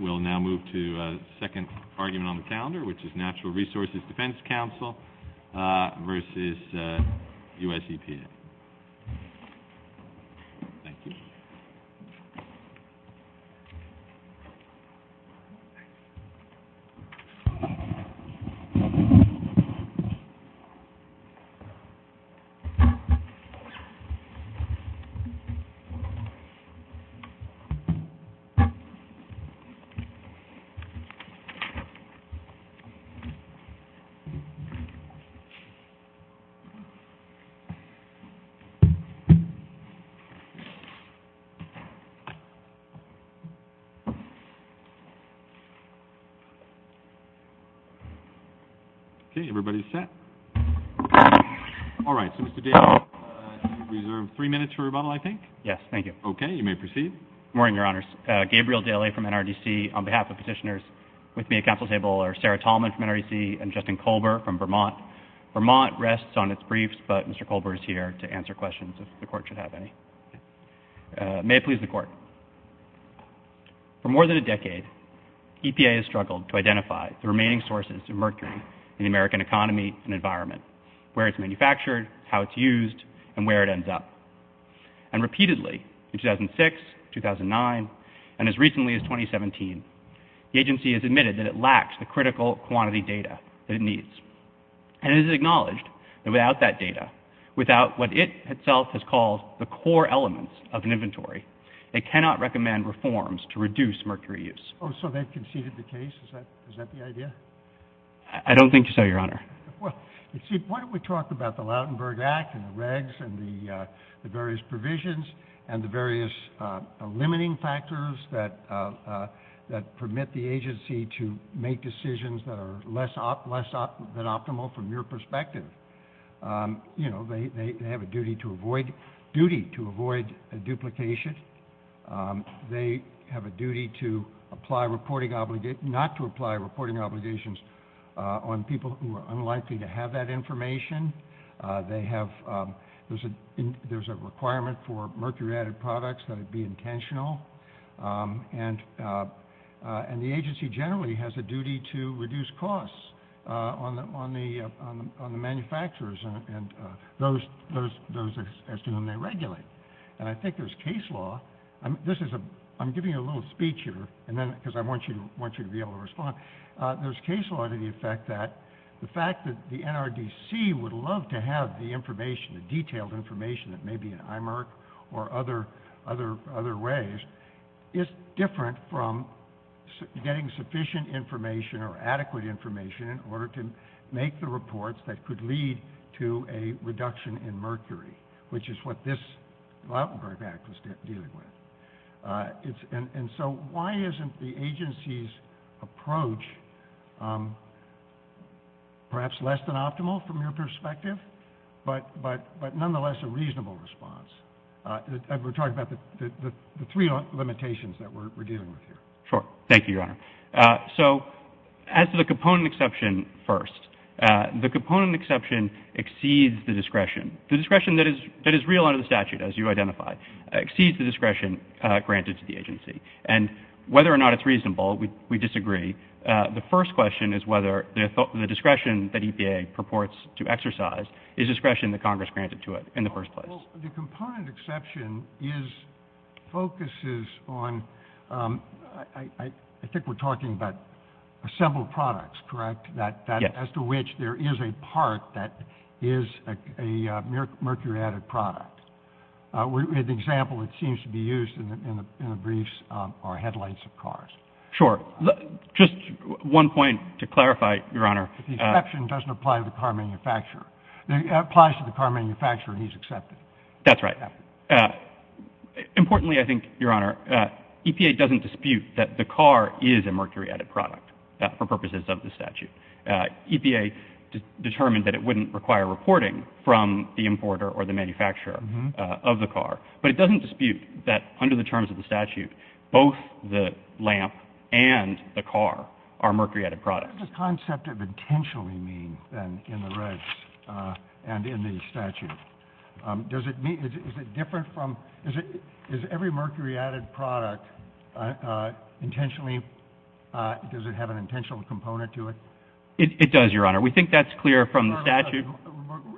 We'll now move to the second argument on the calendar, which is Natural Resources Defense Council versus US EPA. Thank you. Okay, everybody's set. All right, so Mr. Dale, you reserve three minutes for rebuttal, I think? Yes, thank you. Okay, you may proceed. Good morning, Your Honors. Gabriel Daley from NRDC, on behalf of petitioners with me at council table, or Sarah Tallman from NRDC, and Justin Kolber from Vermont. Vermont rests on its briefs, but Mr. Kolber is here to answer questions, if the Court should have any. May it please the Court. For more than a decade, EPA has struggled to identify the remaining sources of mercury in the American economy and environment, where it's manufactured, how it's used, and where it ends up. And repeatedly, in 2006, 2009, and as recently as 2017, the agency has admitted that it lacks the critical quantity data that it needs. And it is acknowledged that without that data, without what it itself has called the core elements of an inventory, it cannot recommend reforms to reduce mercury use. Oh, so they've conceded the case? Is that the idea? I don't think so, Your Honor. Well, see, why don't we talk about the Lautenberg Act and the regs and the various provisions and the various limiting factors that permit the agency to make decisions that are less than optimal from your perspective. You know, they have a duty to avoid duplication. They have a duty not to apply reporting obligations on people who are unlikely to have that information. There's a requirement for mercury-added products that would be intentional. And the agency generally has a duty to reduce costs on the manufacturers and those as to whom they regulate. And I think there's case law. I'm giving you a little speech here because I want you to be able to respond. There's case law to the effect that the fact that the NRDC would love to have the information, the detailed information that may be in IMERC or other ways, is different from getting sufficient information or adequate information in order to make the reports that could lead to a reduction in mercury, which is what this Lautenberg Act was dealing with. And so why isn't the agency's approach perhaps less than optimal from your perspective but nonetheless a reasonable response? We're talking about the three limitations that we're dealing with here. Sure. Thank you, Your Honor. So as to the component exception first, the component exception exceeds the discretion. The discretion that is real under the statute, as you identified, exceeds the discretion granted to the agency. And whether or not it's reasonable, we disagree. The first question is whether the discretion that EPA purports to exercise is discretion that Congress granted to it in the first place. Well, the component exception focuses on, I think we're talking about assembled products, correct, as to which there is a part that is a mercury-added product. An example that seems to be used in the briefs are headlights of cars. Sure. Just one point to clarify, Your Honor. The exception doesn't apply to the car manufacturer. It applies to the car manufacturer and he's accepted. That's right. Importantly, I think, Your Honor, EPA doesn't dispute that the car is a mercury-added product for purposes of the statute. EPA determined that it wouldn't require reporting from the importer or the manufacturer of the car. But it doesn't dispute that under the terms of the statute, both the lamp and the car are mercury-added products. What does the concept of intentionally mean, then, in the regs and in the statute? Does it mean, is it different from, is every mercury-added product intentionally, does it have an intentional component to it? It does, Your Honor. We think that's clear from the statute.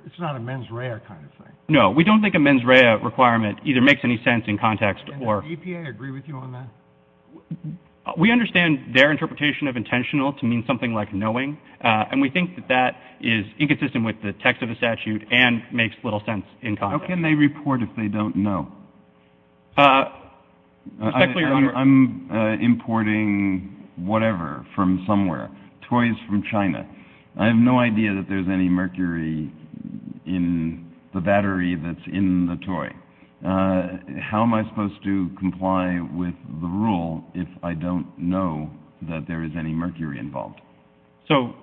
It's not a mens rea kind of thing. No, we don't think a mens rea requirement either makes any sense in context or... Does EPA agree with you on that? We understand their interpretation of intentional to mean something like knowing, and we think that that is inconsistent with the text of the statute and makes little sense in context. How can they report if they don't know? Respectfully, Your Honor... I'm importing whatever from somewhere, toys from China. I have no idea that there's any mercury in the battery that's in the toy. How am I supposed to comply with the rule if I don't know that there is any mercury involved? So,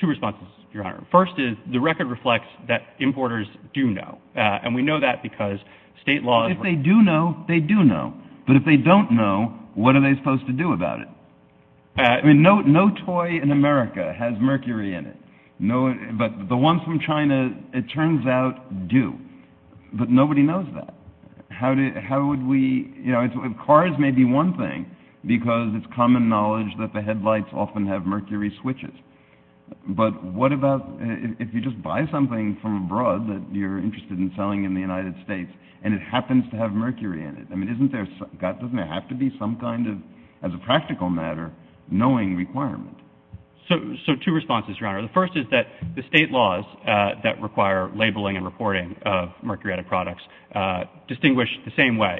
two responses, Your Honor. First is, the record reflects that importers do know, and we know that because state laws... If they do know, they do know. But if they don't know, what are they supposed to do about it? I mean, no toy in America has mercury in it. But the ones from China, it turns out, do. But nobody knows that. Cars may be one thing because it's common knowledge that the headlights often have mercury switches. But what about if you just buy something from abroad that you're interested in selling in the United States and it happens to have mercury in it? I mean, doesn't there have to be some kind of, as a practical matter, knowing requirement? So, two responses, Your Honor. The first is that the state laws that require labeling and reporting of mercuriotic products distinguish the same way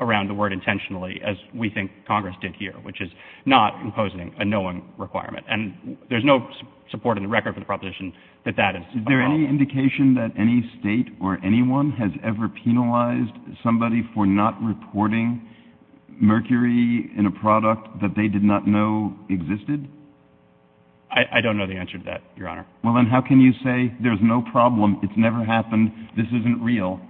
around the word intentionally as we think Congress did here, which is not imposing a knowing requirement. And there's no support in the record for the proposition that that is a problem. Is there any indication that any state or anyone has ever penalized somebody for not reporting mercury in a product that they did not know existed? I don't know the answer to that, Your Honor. Well, then how can you say there's no problem, it's never happened, this isn't real?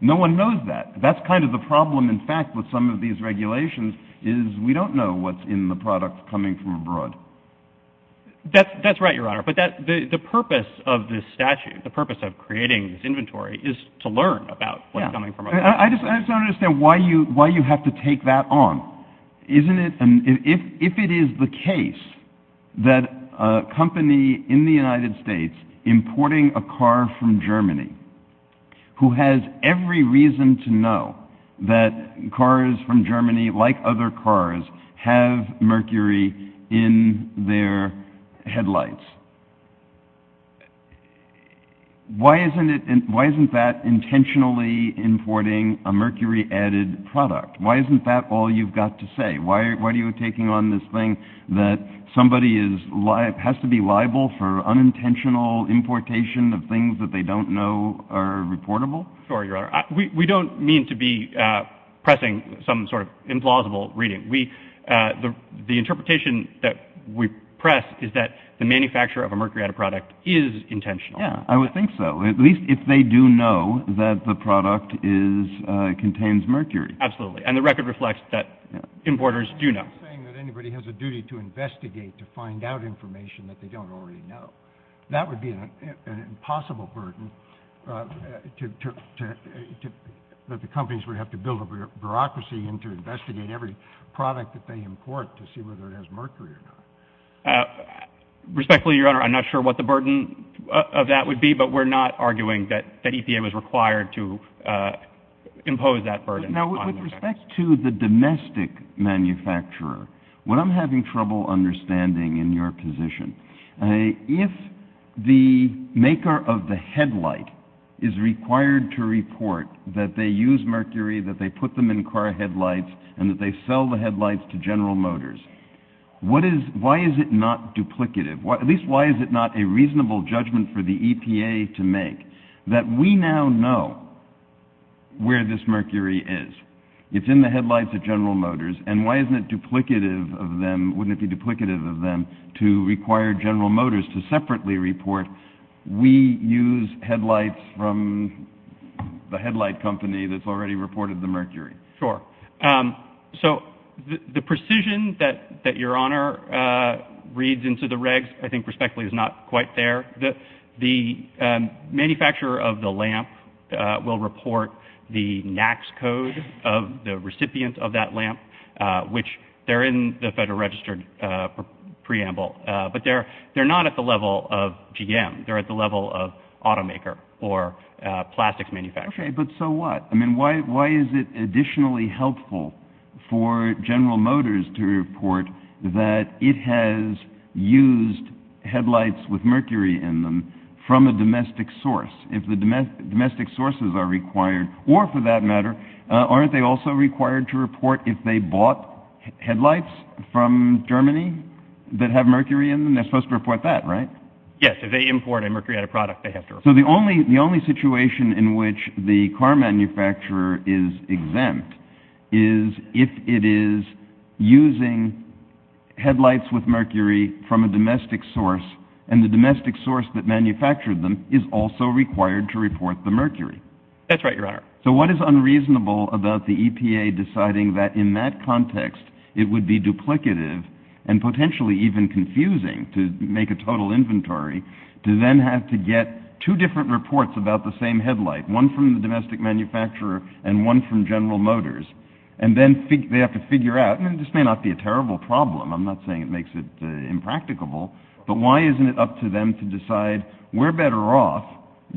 No one knows that. That's kind of the problem, in fact, with some of these regulations is we don't know what's in the product coming from abroad. That's right, Your Honor. But the purpose of this statute, the purpose of creating this inventory, is to learn about what's coming from abroad. I just don't understand why you have to take that on. If it is the case that a company in the United States importing a car from Germany who has every reason to know that cars from Germany, like other cars, have mercury in their headlights, why isn't that intentionally importing a mercury-added product? Why isn't that all you've got to say? Why are you taking on this thing that somebody has to be liable for unintentional importation of things that they don't know are reportable? We don't mean to be pressing some sort of implausible reading. The interpretation that we press is that the manufacturer of a mercury-added product is intentional. I would think so, at least if they do know that the product contains mercury. Absolutely, and the record reflects that importers do know. You're saying that anybody has a duty to investigate, to find out information that they don't already know. That would be an impossible burden that the companies would have to build a bureaucracy into investigating every product that they import to see whether it has mercury or not. Respectfully, Your Honor, I'm not sure what the burden of that would be, but we're not arguing that EPA was required to impose that burden. With respect to the domestic manufacturer, what I'm having trouble understanding in your position, if the maker of the headlight is required to report that they use mercury, that they put them in car headlights, and that they sell the headlights to General Motors, why is it not duplicative? At least why is it not a reasonable judgment for the EPA to make that we now know where this mercury is? It's in the headlights at General Motors, and why isn't it duplicative of them, wouldn't it be duplicative of them to require General Motors to separately report, we use headlights from the headlight company that's already reported the mercury? The precision that Your Honor reads into the regs, I think respectfully, is not quite there. The manufacturer of the lamp will report the NAX code of the recipient of that lamp, which they're in the Federal Registered Preamble, but they're not at the level of GM. They're at the level of automaker or plastics manufacturer. Okay, but so what? I mean, why is it additionally helpful for General Motors to report that it has used headlights with mercury in them from a domestic source? If the domestic sources are required, or for that matter, aren't they also required to report if they bought headlights from Germany that have mercury in them, they're supposed to report that, right? Yes, if they import a mercury out of product, they have to report that. So the only situation in which the car manufacturer is exempt is if it is using headlights with mercury from a domestic source, and the domestic source that manufactured them is also required to report the mercury. That's right, Your Honor. So what is unreasonable about the EPA deciding that in that context, it would be duplicative and potentially even confusing to make a total inventory to then have to get two different reports about the same headlight, one from the domestic manufacturer and one from General Motors, and then they have to figure out, and this may not be a terrible problem, I'm not saying it makes it impracticable, but why isn't it up to them to decide we're better off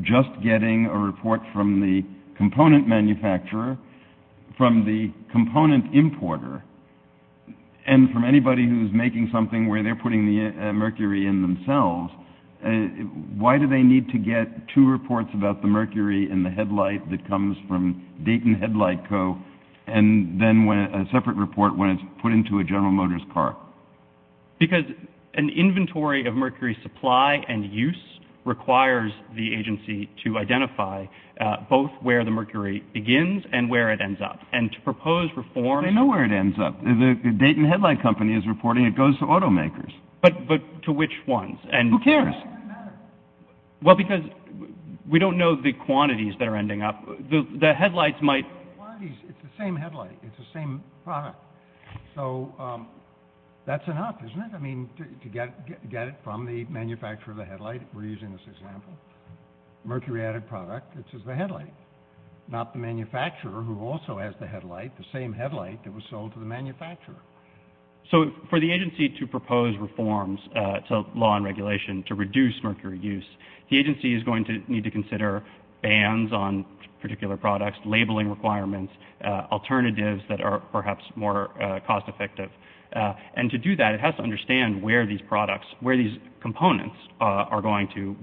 just getting a report from the component manufacturer, from the component importer, and from anybody who's making something where they're putting the mercury in themselves, why do they need to get two reports about the mercury in the headlight that comes from Dayton Headlight Co., and then a separate report when it's put into a General Motors car? Because an inventory of mercury supply and use requires the agency to identify both where the mercury begins and where it ends up, and to propose reforms I already know where it ends up. The Dayton Headlight Company is reporting it goes to automakers. But to which ones? Who cares? Well, because we don't know the quantities that are ending up. The headlights might It's the same headlight. It's the same product. So that's enough, isn't it? I mean, to get it from the manufacturer of the headlight, we're using this example, mercury-added product, which is the headlight, not the manufacturer who also has the headlight, the same headlight that was sold to the manufacturer. So for the agency to propose reforms to law and regulation to reduce mercury use, the agency is going to need to consider bans on particular products, labeling requirements, alternatives that are perhaps more cost-effective. And to do that, it has to understand where these products, where these components are going to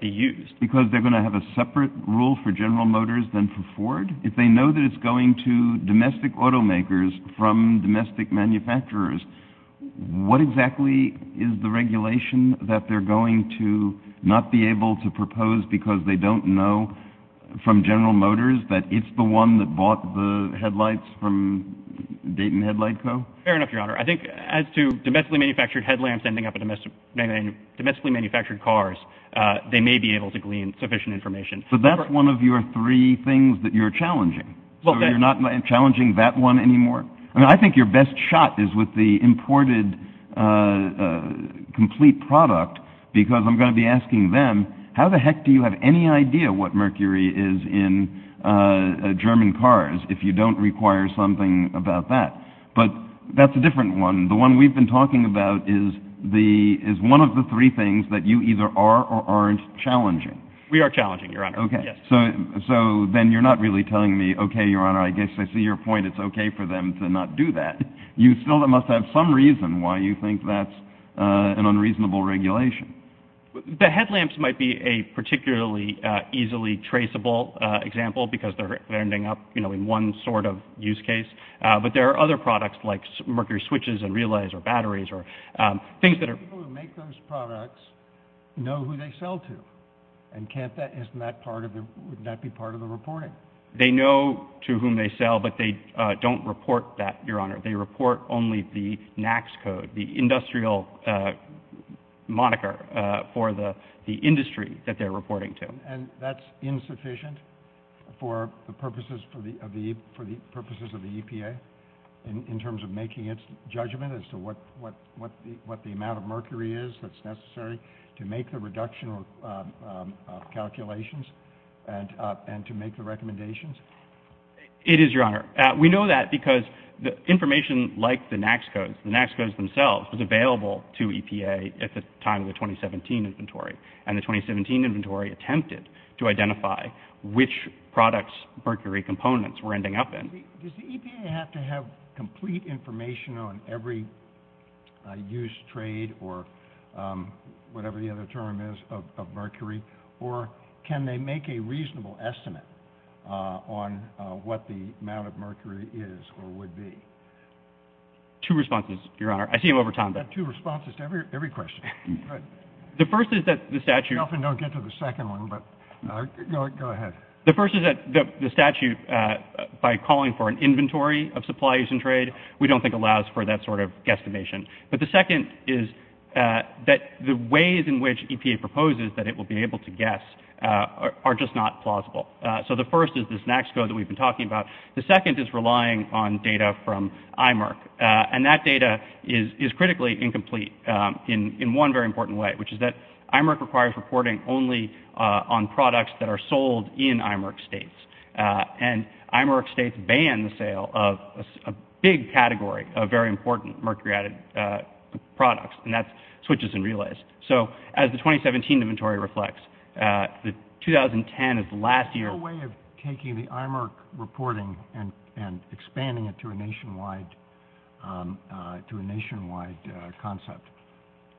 be used. Because they're going to have a separate rule for General Motors than for Ford? If they know that it's going to domestic automakers from domestic manufacturers, what exactly is the regulation that they're going to not be able to propose because they don't know from General Motors that it's the one that bought the headlights from Dayton Headlight Co.? Fair enough, Your Honor. I think as to domestically manufactured headlamps ending up in domestically manufactured cars, they may be able to glean sufficient information. So that's one of your three things that you're challenging. So you're not challenging that one anymore? I mean, I think your best shot is with the imported complete product because I'm going to be asking them, how the heck do you have any idea what mercury is in German cars if you don't require something about that? But that's a different one. The one we've been talking about is one of the three things that you either are or aren't challenging. We are challenging, Your Honor. So then you're not really telling me, okay, Your Honor, I guess I see your point. It's okay for them to not do that. You still must have some reason why you think that's an unreasonable regulation. The headlamps might be a particularly easily traceable example because they're ending up in one sort of use case. But there are other products like mercury switches and relays or batteries or things that are— People who make those products know who they sell to, and can't that be part of the reporting? They know to whom they sell, but they don't report that, Your Honor. They report only the NAAQS code, the industrial moniker for the industry that they're reporting to. And that's insufficient for the purposes of the EPA in terms of making its judgment as to what the amount of mercury is that's necessary to make the reduction calculations and to make the recommendations? It is, Your Honor. We know that because the information like the NAAQS codes, the NAAQS codes themselves was available to EPA at the time of the 2017 inventory, and the 2017 inventory attempted to identify which products mercury components were ending up in. Does the EPA have to have complete information on every use, trade, or whatever the other term is of mercury, or can they make a reasonable estimate on what the amount of mercury is or would be? Two responses, Your Honor. I see them over time. Two responses to every question. The first is that the statute by calling for an inventory of supplies and trade, we don't think allows for that sort of guesstimation. But the second is that the ways in which EPA proposes that it will be able to guess are just not plausible. So the first is this NAAQS code that we've been talking about. The second is relying on data from IMERC, and that data is critically incomplete. In one very important way, which is that IMERC requires reporting only on products that are sold in IMERC states, and IMERC states ban the sale of a big category of very important mercury-added products, and that switches and relays. So as the 2017 inventory reflects, the 2010 is the last year. Is there a way of taking the IMERC reporting and expanding it to a nationwide concept,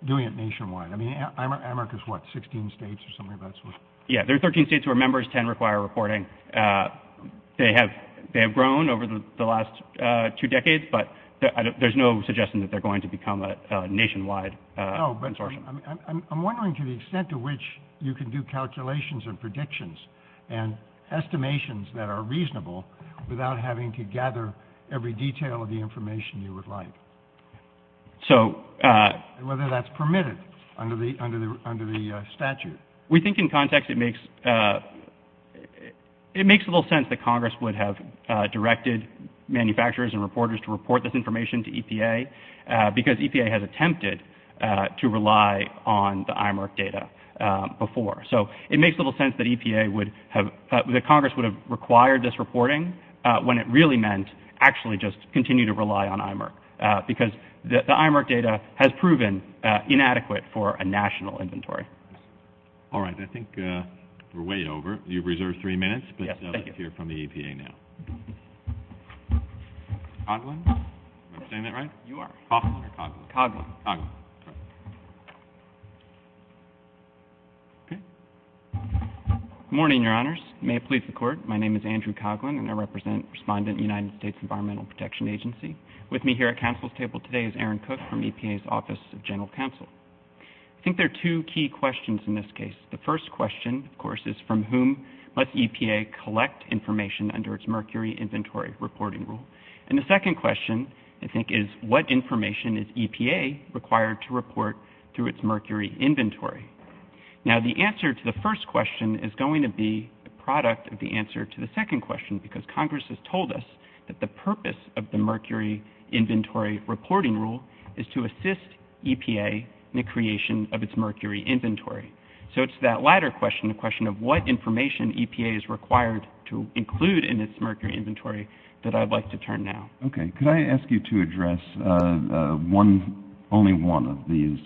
doing it nationwide? I mean, IMERC is what, 16 states or something of that sort? Yeah, there are 13 states where members can require reporting. They have grown over the last two decades, but there's no suggestion that they're going to become a nationwide consortium. I'm wondering to the extent to which you can do calculations and predictions and estimations that are reasonable without having to gather every detail of the information you would like, and whether that's permitted under the statute. We think in context it makes a little sense that Congress would have directed manufacturers and reporters to report this information to EPA because EPA has attempted to rely on the IMERC data before. So it makes little sense that Congress would have required this reporting when it really meant actually just continue to rely on IMERC, because the IMERC data has proven inadequate for a national inventory. All right, I think we're way over. You've reserved three minutes, but let's hear from the EPA now. Coughlin? Am I saying that right? You are. Coughlin or Coughlin? Coughlin. Good morning, Your Honors. May it please the Court, my name is Andrew Coughlin, and I represent Respondent United States Environmental Protection Agency. With me here at counsel's table today is Aaron Cook from EPA's Office of General Counsel. I think there are two key questions in this case. The first question, of course, is from whom must EPA collect information under its Mercury Inventory Reporting Rule? And the second question, I think, is what information is EPA required to report through its mercury inventory? Now, the answer to the first question is going to be the product of the answer to the second question, because Congress has told us that the purpose of the Mercury Inventory Reporting Rule is to assist EPA in the creation of its mercury inventory. So it's that latter question, the question of what information EPA is required to include in its mercury inventory, that I'd like to turn now. Okay. Could I ask you to address only one of these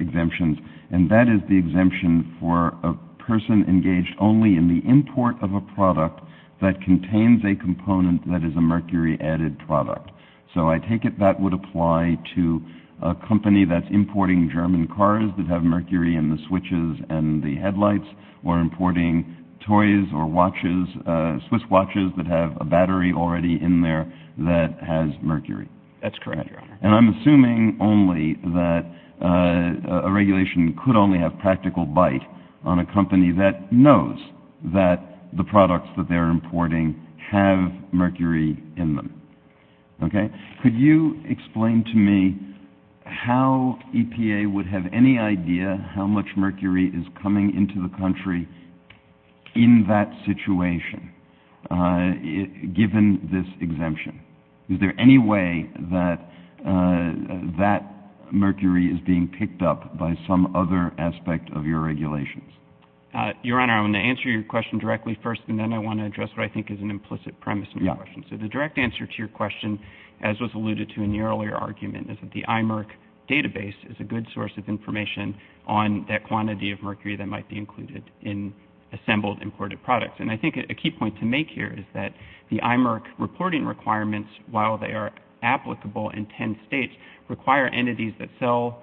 exemptions, and that is the exemption for a person engaged only in the import of a product that contains a component that is a mercury-added product. So I take it that would apply to a company that's importing German cars that have mercury in the switches and the headlights, or importing toys or watches, Swiss watches that have a battery already in there that has mercury. That's correct, Your Honor. And I'm assuming only that a regulation could only have practical bite on a company that knows that the products that they're importing have mercury in them. Okay. Could you explain to me how EPA would have any idea how much mercury is coming into the country in that situation, given this exemption? Is there any way that that mercury is being picked up by some other aspect of your regulations? Your Honor, I'm going to answer your question directly first, and then I want to address what I think is an implicit premise in your question. So the direct answer to your question, as was alluded to in the earlier argument, is that the IMERC database is a good source of information on that quantity of mercury that might be included in assembled, imported products. And I think a key point to make here is that the IMERC reporting requirements, while they are applicable in 10 states, require entities that sell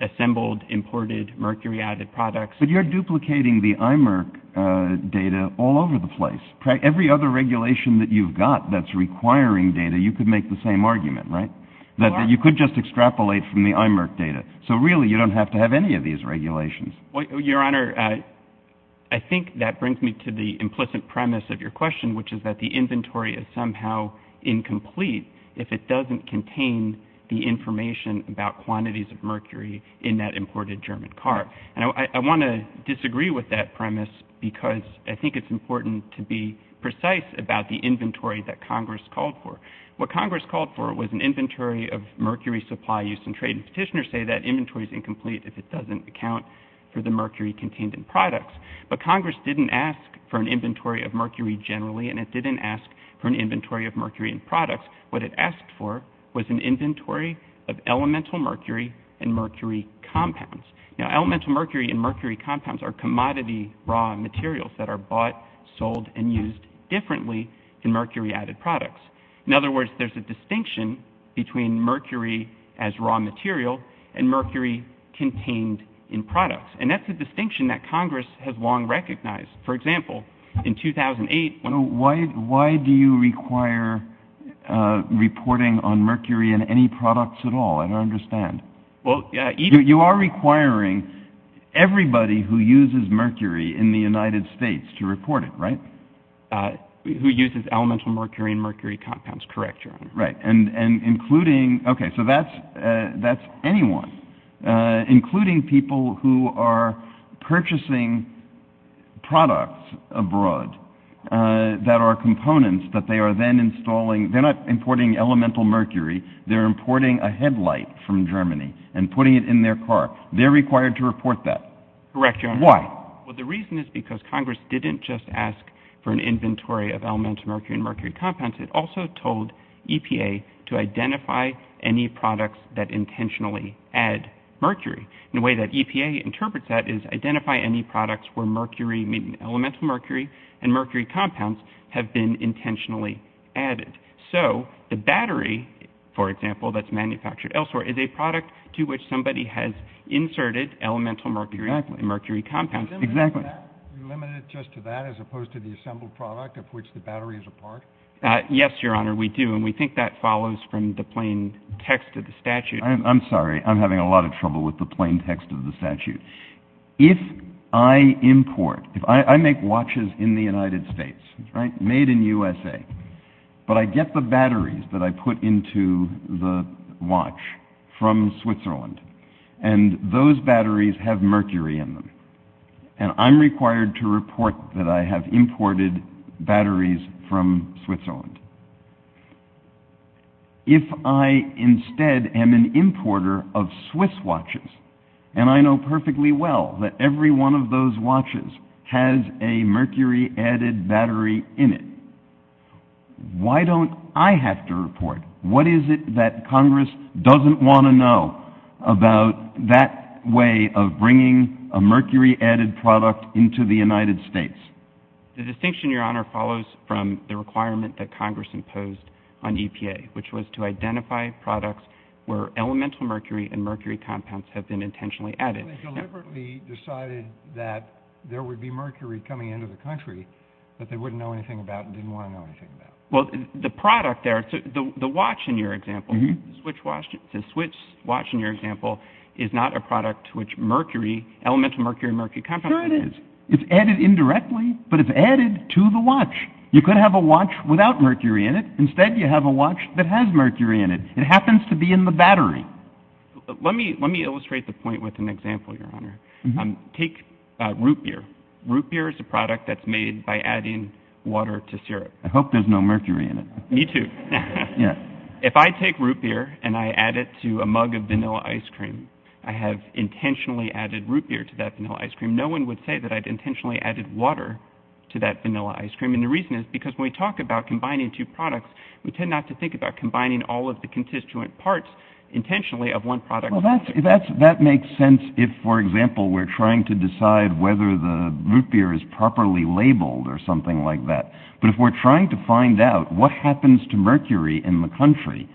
assembled, imported, mercury-added products. But you're duplicating the IMERC data all over the place. Every other regulation that you've got that's requiring data, you could make the same argument, right? That you could just extrapolate from the IMERC data. So really you don't have to have any of these regulations. Your Honor, I think that brings me to the implicit premise of your question, which is that the inventory is somehow incomplete if it doesn't contain the information about quantities of mercury in that imported German car. And I want to disagree with that premise because I think it's important to be precise about the inventory that Congress called for. What Congress called for was an inventory of mercury supply, use, and trade. And petitioners say that inventory is incomplete if it doesn't account for the mercury contained in products. But Congress didn't ask for an inventory of mercury generally, and it didn't ask for an inventory of mercury in products. What it asked for was an inventory of elemental mercury and mercury compounds. Now, elemental mercury and mercury compounds are commodity raw materials that are bought, sold, and used differently in mercury-added products. In other words, there's a distinction between mercury as raw material and mercury contained in products. And that's a distinction that Congress has long recognized. For example, in 2008... Why do you require reporting on mercury in any products at all? I don't understand. You are requiring everybody who uses mercury in the United States to report it, right? Who uses elemental mercury and mercury compounds, correct. Right. And including... Okay, so that's anyone. Including people who are purchasing products abroad that are components that they are then installing. They're not importing elemental mercury. They're importing a headlight from Germany and putting it in their car. They're required to report that. Correct, Your Honor. Why? Well, the reason is because Congress didn't just ask for an inventory of elemental mercury and mercury compounds. It also told EPA to identify any products that intentionally add mercury. And the way that EPA interprets that is identify any products where mercury, meaning elemental mercury and mercury compounds, have been intentionally added. So the battery, for example, that's manufactured elsewhere, is a product to which somebody has inserted elemental mercury compounds. Exactly. You limit it just to that as opposed to the assembled product of which the battery is a part? Yes, Your Honor, we do. And we think that follows from the plain text of the statute. I'm sorry. I'm having a lot of trouble with the plain text of the statute. If I import, if I make watches in the United States, right, made in USA, but I get the batteries that I put into the watch from Switzerland and those batteries have mercury in them, and I'm required to report that I have imported batteries from Switzerland. If I instead am an importer of Swiss watches, and I know perfectly well that every one of those watches has a mercury-added battery in it, why don't I have to report? What is it that Congress doesn't want to know about that way of bringing a mercury-added product into the United States? The distinction, Your Honor, follows from the requirement that Congress imposed on EPA, which was to identify products where elemental mercury and mercury compounds have been intentionally added. They deliberately decided that there would be mercury coming into the country that they wouldn't know anything about and didn't want to know anything about. Well, the product there, the watch in your example, the Swiss watch in your example, is not a product to which mercury, elemental mercury and mercury compounds... Sure it is. It's added indirectly, but it's added to the watch. You could have a watch without mercury in it. Instead, you have a watch that has mercury in it. It happens to be in the battery. Let me illustrate the point with an example, Your Honor. Take root beer. Root beer is a product that's made by adding water to syrup. I hope there's no mercury in it. Me too. If I take root beer and I add it to a mug of vanilla ice cream, I have intentionally added root beer to that vanilla ice cream. No one would say that I'd intentionally added water to that vanilla ice cream. And the reason is because when we talk about combining two products, we tend not to think about combining all of the constituent parts intentionally of one product. Well, that makes sense if, for example, we're trying to decide whether the root beer is properly labeled or something like that. But if we're trying to find out what happens to mercury in the country,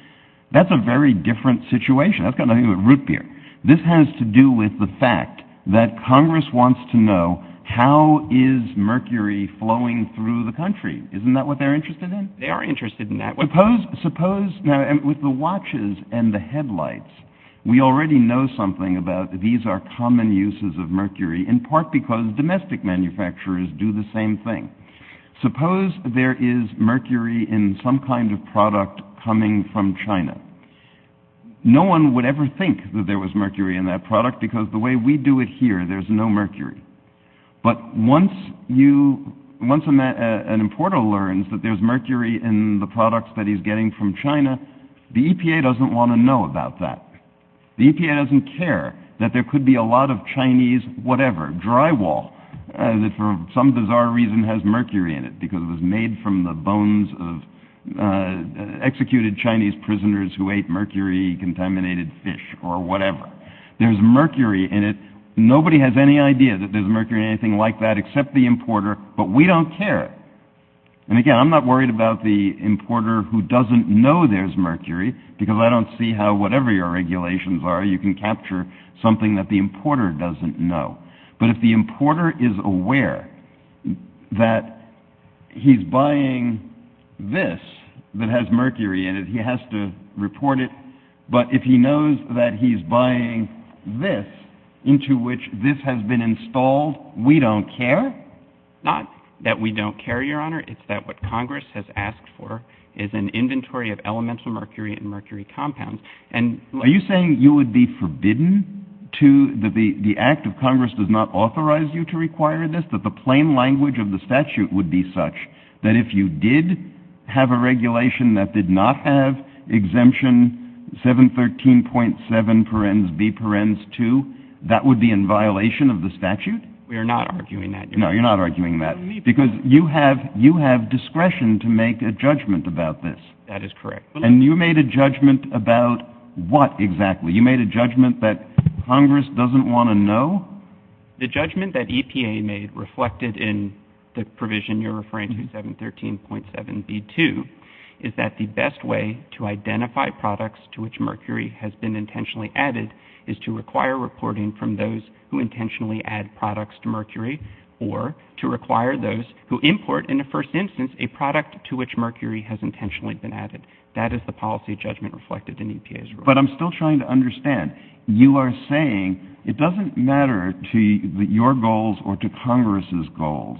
that's a very different situation. That's got nothing to do with root beer. This has to do with the fact that Congress wants to know how is mercury flowing through the country. Isn't that what they're interested in? They are interested in that. Now, with the watches and the headlights, we already know something about these are common uses of mercury in part because domestic manufacturers do the same thing. Suppose there is mercury in some kind of product coming from China. No one would ever think that there was mercury in that product because the way we do it here, there's no mercury. But once an importer learns that there's mercury in the products that he's getting from China, the EPA doesn't want to know about that. The EPA doesn't care that there could be a lot of Chinese whatever, drywall, that for some bizarre reason has mercury in it because it was made from the bones of executed Chinese prisoners who ate mercury-contaminated fish or whatever. There's mercury in it. Nobody has any idea that there's mercury in anything like that except the importer, but we don't care. And again, I'm not worried about the importer who doesn't know there's mercury because I don't see how whatever your regulations are, you can capture something that the importer doesn't know. But if the importer is aware that he's buying this that has mercury in it, he has to report it. But if he knows that he's buying this into which this has been installed, we don't care? Not that we don't care, Your Honor. It's that what Congress has asked for is an inventory of elemental mercury and mercury compounds. Are you saying you would be forbidden to, that the act of Congress does not authorize you to require this, that the plain language of the statute would be such that if you did have a regulation that did not have the exemption 713.7 parens B parens 2, that would be in violation of the statute? We are not arguing that, Your Honor. No, you're not arguing that. Because you have discretion to make a judgment about this. That is correct. And you made a judgment about what exactly? You made a judgment that Congress doesn't want to know? The judgment that EPA made reflected in the provision you're referring to, is that the best way to identify products to which mercury has been intentionally added is to require reporting from those who intentionally add products to mercury or to require those who import, in the first instance, a product to which mercury has intentionally been added. That is the policy judgment reflected in EPA's rule. But I'm still trying to understand. You are saying it doesn't matter to your goals or to Congress's goals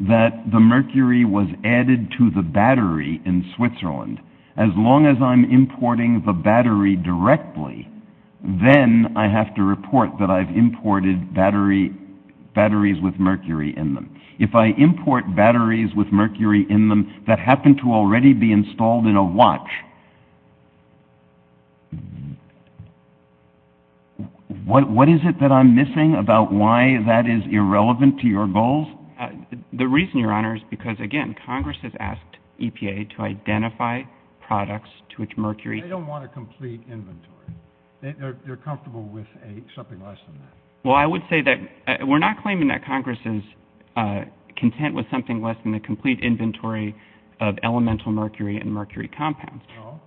that the mercury was added to the battery in Switzerland. As long as I'm importing the battery directly, then I have to report that I've imported batteries with mercury in them. If I import batteries with mercury in them that happen to already be installed in a watch, what is it that I'm missing about why that is irrelevant to your goals? The reason, Your Honor, is because, again, Congress has asked EPA to identify products to which mercury has been added. They don't want a complete inventory. They're comfortable with something less than that. Well, I would say that we're not claiming that Congress is content with something less than the complete inventory of elemental mercury and mercury compounds.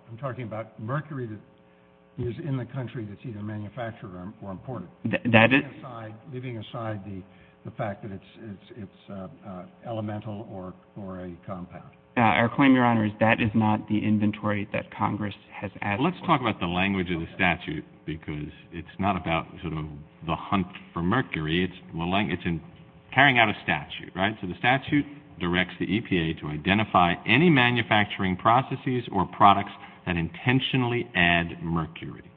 I'm talking about mercury that is in the country that's either manufactured or imported, leaving aside the fact that it's elemental or a compound. Our claim, Your Honor, is that is not the inventory that Congress has added. Well, let's talk about the language of the statute, because it's not about sort of the hunt for mercury. It's carrying out a statute, right? So the statute directs the EPA to identify any manufacturing processes or products that intentionally add mercury,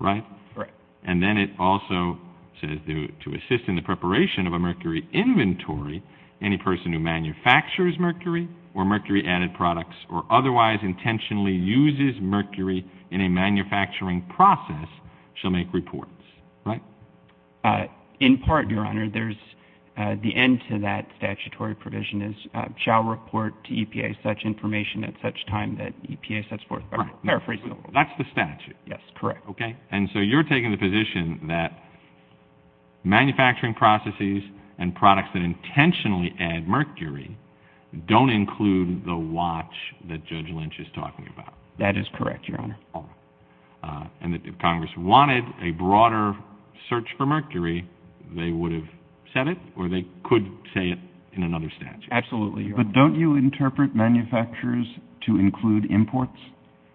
right? Right. And then it also says to assist in the preparation of a mercury inventory, any person who manufactures mercury or mercury-added products or otherwise intentionally uses mercury in a manufacturing process shall make reports, right? In part, Your Honor, there's the end to that statutory provision is shall report to EPA such information at such time that EPA sets forth by paraphrasing. That's the statute. Yes, correct. Okay. And so you're taking the position that manufacturing processes and products that intentionally add mercury don't include the watch that Judge Lynch is talking about. That is correct, Your Honor. And that if Congress wanted a broader search for mercury, they would have said it or they could say it in another statute. Absolutely, Your Honor. But don't you interpret manufacturers to include imports?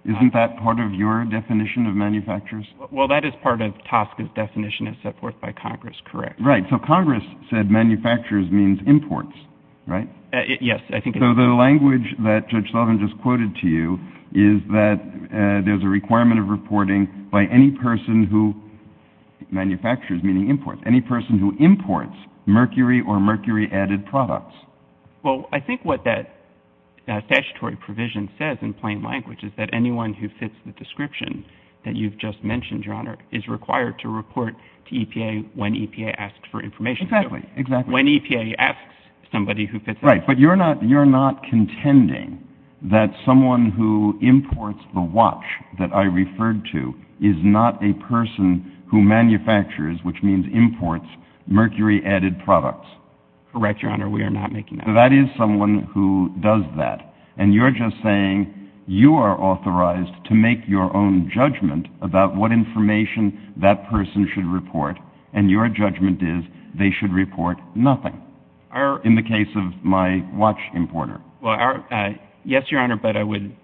Isn't that part of your definition of manufacturers? Well, that is part of TSCA's definition as set forth by Congress, correct. Right. Yes, I think it is. So the language that Judge Sullivan just quoted to you is that there's a requirement of reporting by any person who manufactures, meaning imports, any person who imports mercury or mercury-added products. Well, I think what that statutory provision says in plain language is that anyone who fits the description that you've just mentioned, Your Honor, is required to report to EPA when EPA asks for information. Exactly, exactly. When EPA asks somebody who fits that description. Right. But you're not contending that someone who imports the watch that I referred to is not a person who manufactures, which means imports, mercury-added products. Correct, Your Honor. We are not making that claim. That is someone who does that. And you're just saying you are authorized to make your own judgment about what information that person should report, and your judgment is they should report nothing. In the case of my watch importer. Well, yes, Your Honor, but I would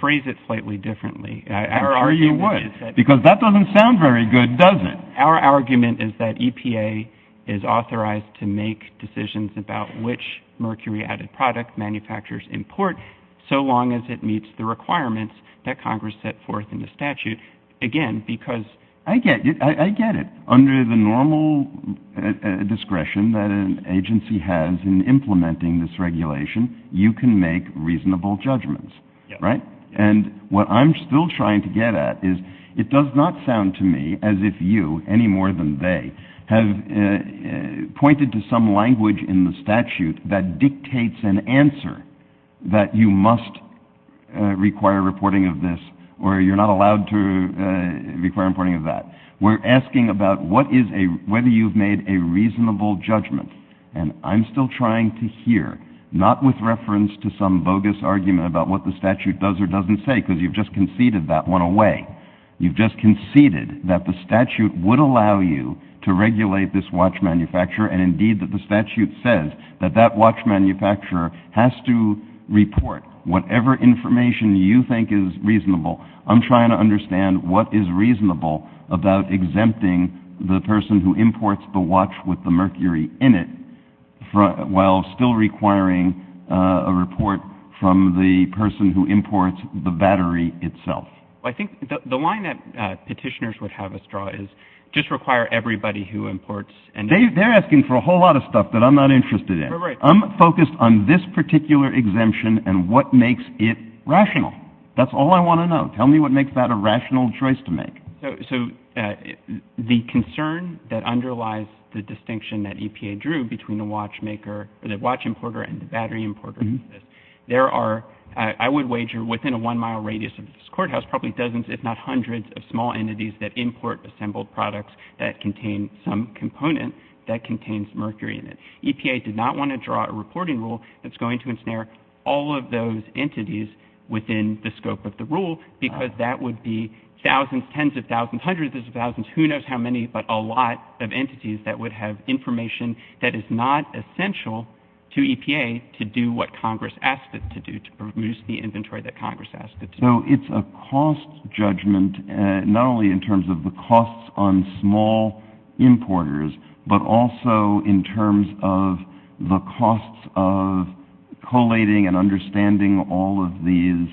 phrase it slightly differently. I'm sure you would, because that doesn't sound very good, does it? Our argument is that EPA is authorized to make decisions about which mercury-added product manufacturers import so long as it meets the requirements that Congress set forth in the statute. Again, because... I get it. Under the normal discretion that an agency has in implementing this regulation, you can make reasonable judgments, right? And what I'm still trying to get at is it does not sound to me as if you, any more than they, have pointed to some language in the statute that dictates an answer that you must require reporting of this or you're not allowed to require reporting of that. We're asking about whether you've made a reasonable judgment, and I'm still trying to hear, not with reference to some bogus argument about what the statute does or doesn't say, because you've just conceded that one away. You've just conceded that the statute would allow you to regulate this watch manufacturer, and indeed that the statute says that that watch manufacturer has to report. Whatever information you think is reasonable, I'm trying to understand what is reasonable about exempting the person who imports the watch with the mercury in it while still requiring a report from the person who imports the battery itself. I think the line that petitioners would have us draw is just require everybody who imports... They're asking for a whole lot of stuff that I'm not interested in. I'm focused on this particular exemption and what makes it rational. That's all I want to know. Tell me what makes that a rational choice to make. So the concern that underlies the distinction that EPA drew between the watch importer and the battery importer is this. There are, I would wager, within a one-mile radius of this courthouse, probably dozens if not hundreds of small entities that import assembled products that contain some component that contains mercury in it. EPA did not want to draw a reporting rule that's going to ensnare all of those entities within the scope of the rule because that would be thousands, tens of thousands, hundreds of thousands, who knows how many but a lot of entities that would have information that is not essential to EPA to do what Congress asked it to do, to produce the inventory that Congress asked it to do. So it's a cost judgment not only in terms of the costs on small importers but also in terms of the costs of collating and understanding all of these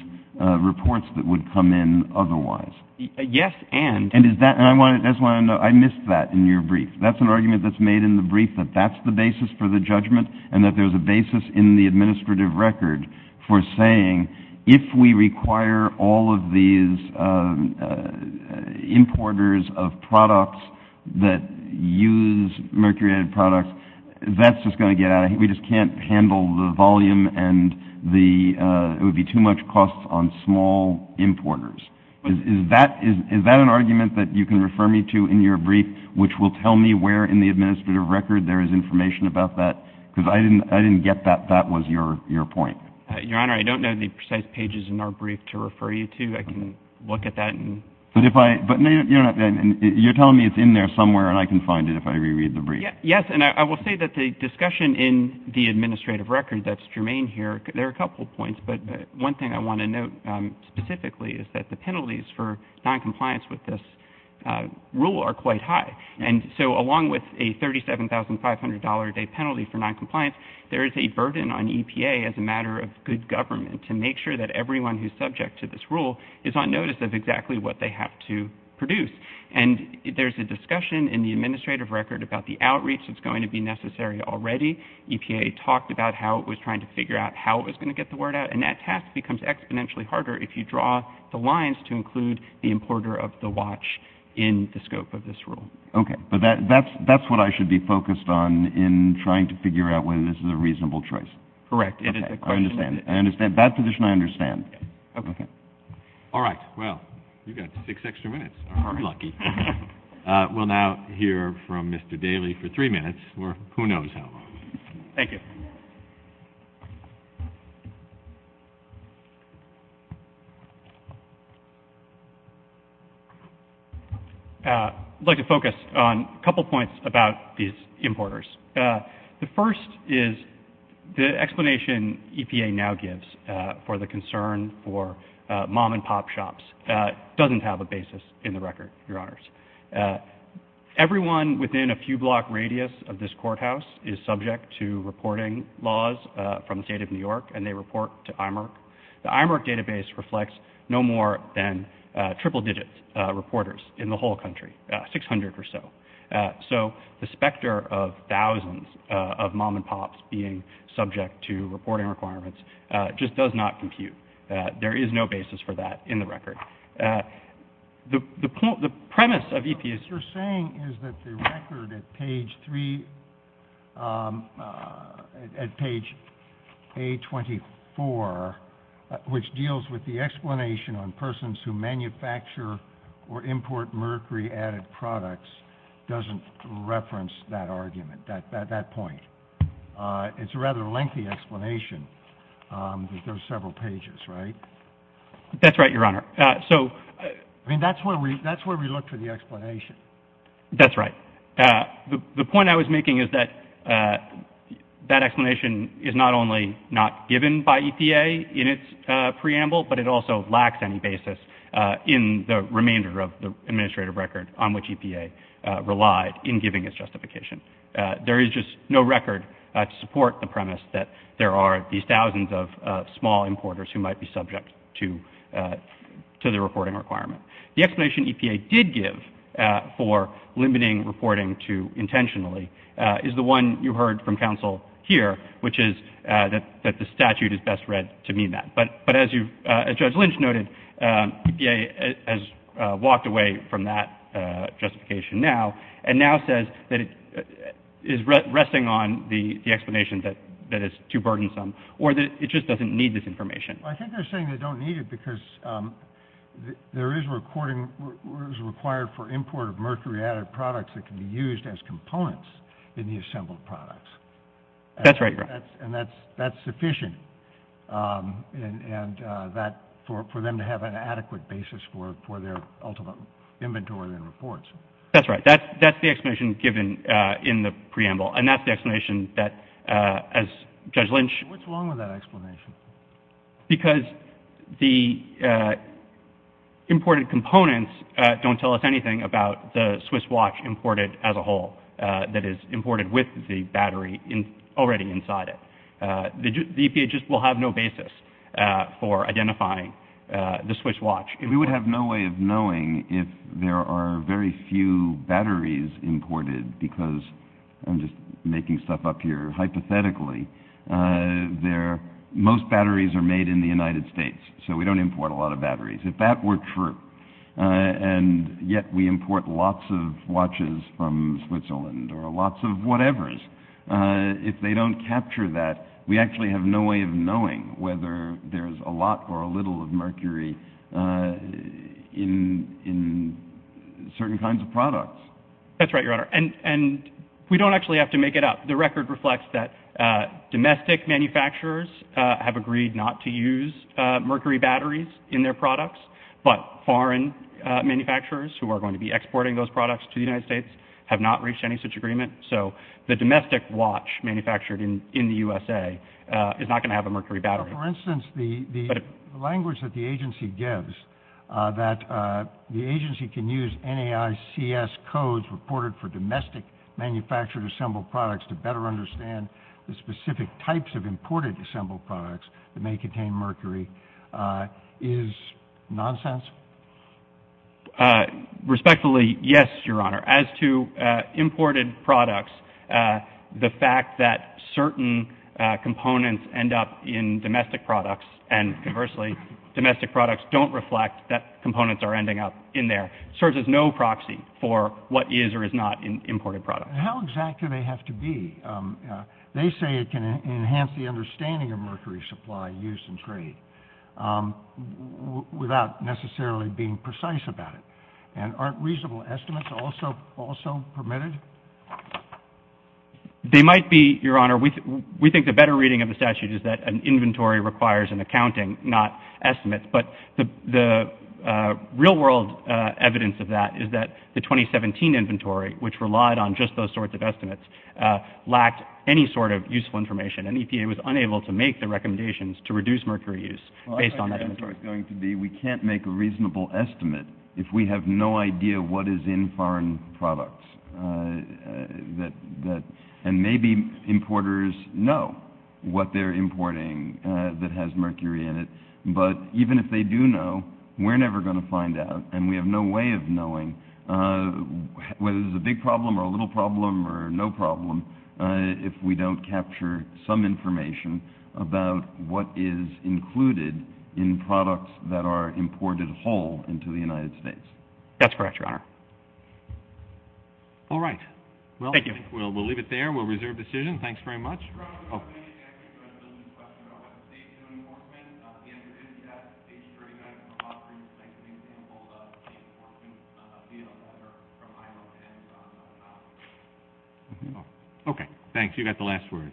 reports that would come in otherwise. Yes, and? And that's why I missed that in your brief. That's an argument that's made in the brief that that's the basis for the judgment and that there's a basis in the administrative record for saying if we require all of these importers of products that use mercury-added products, that's just going to get out of hand. We just can't handle the volume and it would be too much cost on small importers. Is that an argument that you can refer me to in your brief, which will tell me where in the administrative record there is information about that? Because I didn't get that. That was your point. Your Honor, I don't know the precise pages in our brief to refer you to. I can look at that. But you're telling me it's in there somewhere and I can find it if I reread the brief. Yes, and I will say that the discussion in the administrative record that's germane here, there are a couple of points, but one thing I want to note specifically is that the penalties for noncompliance with this rule are quite high. And so along with a $37,500-a-day penalty for noncompliance, there is a burden on EPA as a matter of good government to make sure that everyone who's subject to this rule is on notice of exactly what they have to produce. And there's a discussion in the administrative record about the outreach that's going to be necessary already. EPA talked about how it was trying to figure out how it was going to get the word out, and that task becomes exponentially harder if you draw the lines to include the importer of the watch in the scope of this rule. Okay, but that's what I should be focused on in trying to figure out whether this is a reasonable choice. Correct. I understand. I understand. That position I understand. Okay. All right. Well, you've got six extra minutes. You're lucky. We'll now hear from Mr. Daley for three minutes or who knows how long. Thank you. Thank you. I'd like to focus on a couple points about these importers. The first is the explanation EPA now gives for the concern for mom-and-pop shops doesn't have a basis in the record, Your Honors. Everyone within a few-block radius of this courthouse is subject to reporting laws from the State of New York, and they report to IMERC. The IMERC database reflects no more than triple-digit reporters in the whole country, 600 or so. So the specter of thousands of mom-and-pops being subject to reporting requirements just does not compute. There is no basis for that in the record. The premise of EPA's- What you're saying is that the record at page three, at page A24, which deals with the explanation on persons who manufacture or import mercury-added products doesn't reference that argument, that point. It's a rather lengthy explanation, but there are several pages, right? That's right, Your Honor. I mean, that's where we looked for the explanation. That's right. The point I was making is that that explanation is not only not given by EPA in its preamble, but it also lacks any basis in the remainder of the administrative record on which EPA relied in giving its justification. There is just no record to support the premise that there are these thousands of small importers who might be subject to the reporting requirement. The explanation EPA did give for limiting reporting to intentionally is the one you heard from counsel here, which is that the statute is best read to mean that. But as Judge Lynch noted, EPA has walked away from that justification now and now says that it is resting on the explanation that is too burdensome or that it just doesn't need this information. I think they're saying they don't need it because there is a recording required for import of mercury-added products that can be used as components in the assembled products. That's right, Your Honor. And that's sufficient for them to have an adequate basis for their ultimate inventory and reports. That's right. That's the explanation given in the preamble. What's wrong with that explanation? Because the imported components don't tell us anything about the Swiss watch imported as a whole that is imported with the battery already inside it. The EPA just will have no basis for identifying the Swiss watch. We would have no way of knowing if there are very few batteries imported because I'm just making stuff up here hypothetically. Most batteries are made in the United States, so we don't import a lot of batteries. If that were true, and yet we import lots of watches from Switzerland or lots of whatevers, if they don't capture that, we actually have no way of knowing whether there's a lot or a little of mercury in certain kinds of products. That's right, Your Honor. And we don't actually have to make it up. The record reflects that domestic manufacturers have agreed not to use mercury batteries in their products, but foreign manufacturers who are going to be exporting those products to the United States have not reached any such agreement. So the domestic watch manufactured in the USA is not going to have a mercury battery. For instance, the language that the agency gives, that the agency can use NAICS codes reported for domestic manufactured assembled products to better understand the specific types of imported assembled products that may contain mercury, is nonsense? As to imported products, the fact that certain components end up in domestic products and conversely, domestic products don't reflect that components are ending up in there, serves as no proxy for what is or is not imported products. How exact do they have to be? They say it can enhance the understanding of mercury supply, use, and trade without necessarily being precise about it. And aren't reasonable estimates also permitted? They might be, Your Honor. We think the better reading of the statute is that an inventory requires an accounting, not estimates. But the real-world evidence of that is that the 2017 inventory, which relied on just those sorts of estimates, lacked any sort of useful information. And EPA was unable to make the recommendations to reduce mercury use based on that inventory. I think the answer is going to be we can't make a reasonable estimate if we have no idea what is in foreign products. And maybe importers know what they're importing that has mercury in it, but even if they do know, we're never going to find out, and we have no way of knowing whether this is a big problem or a little problem or no problem if we don't capture some information about what is included in products that are imported whole into the United States. That's correct, Your Honor. All right. Thank you. We'll leave it there. We'll reserve decision. Thanks very much. Mr. Brown, I think you had a question about what the state is doing to importment. The answer is yes. The state is treating that as an offering. It's like an example of state important deal that are from IMO and from China. Okay. Thanks. You got the last word.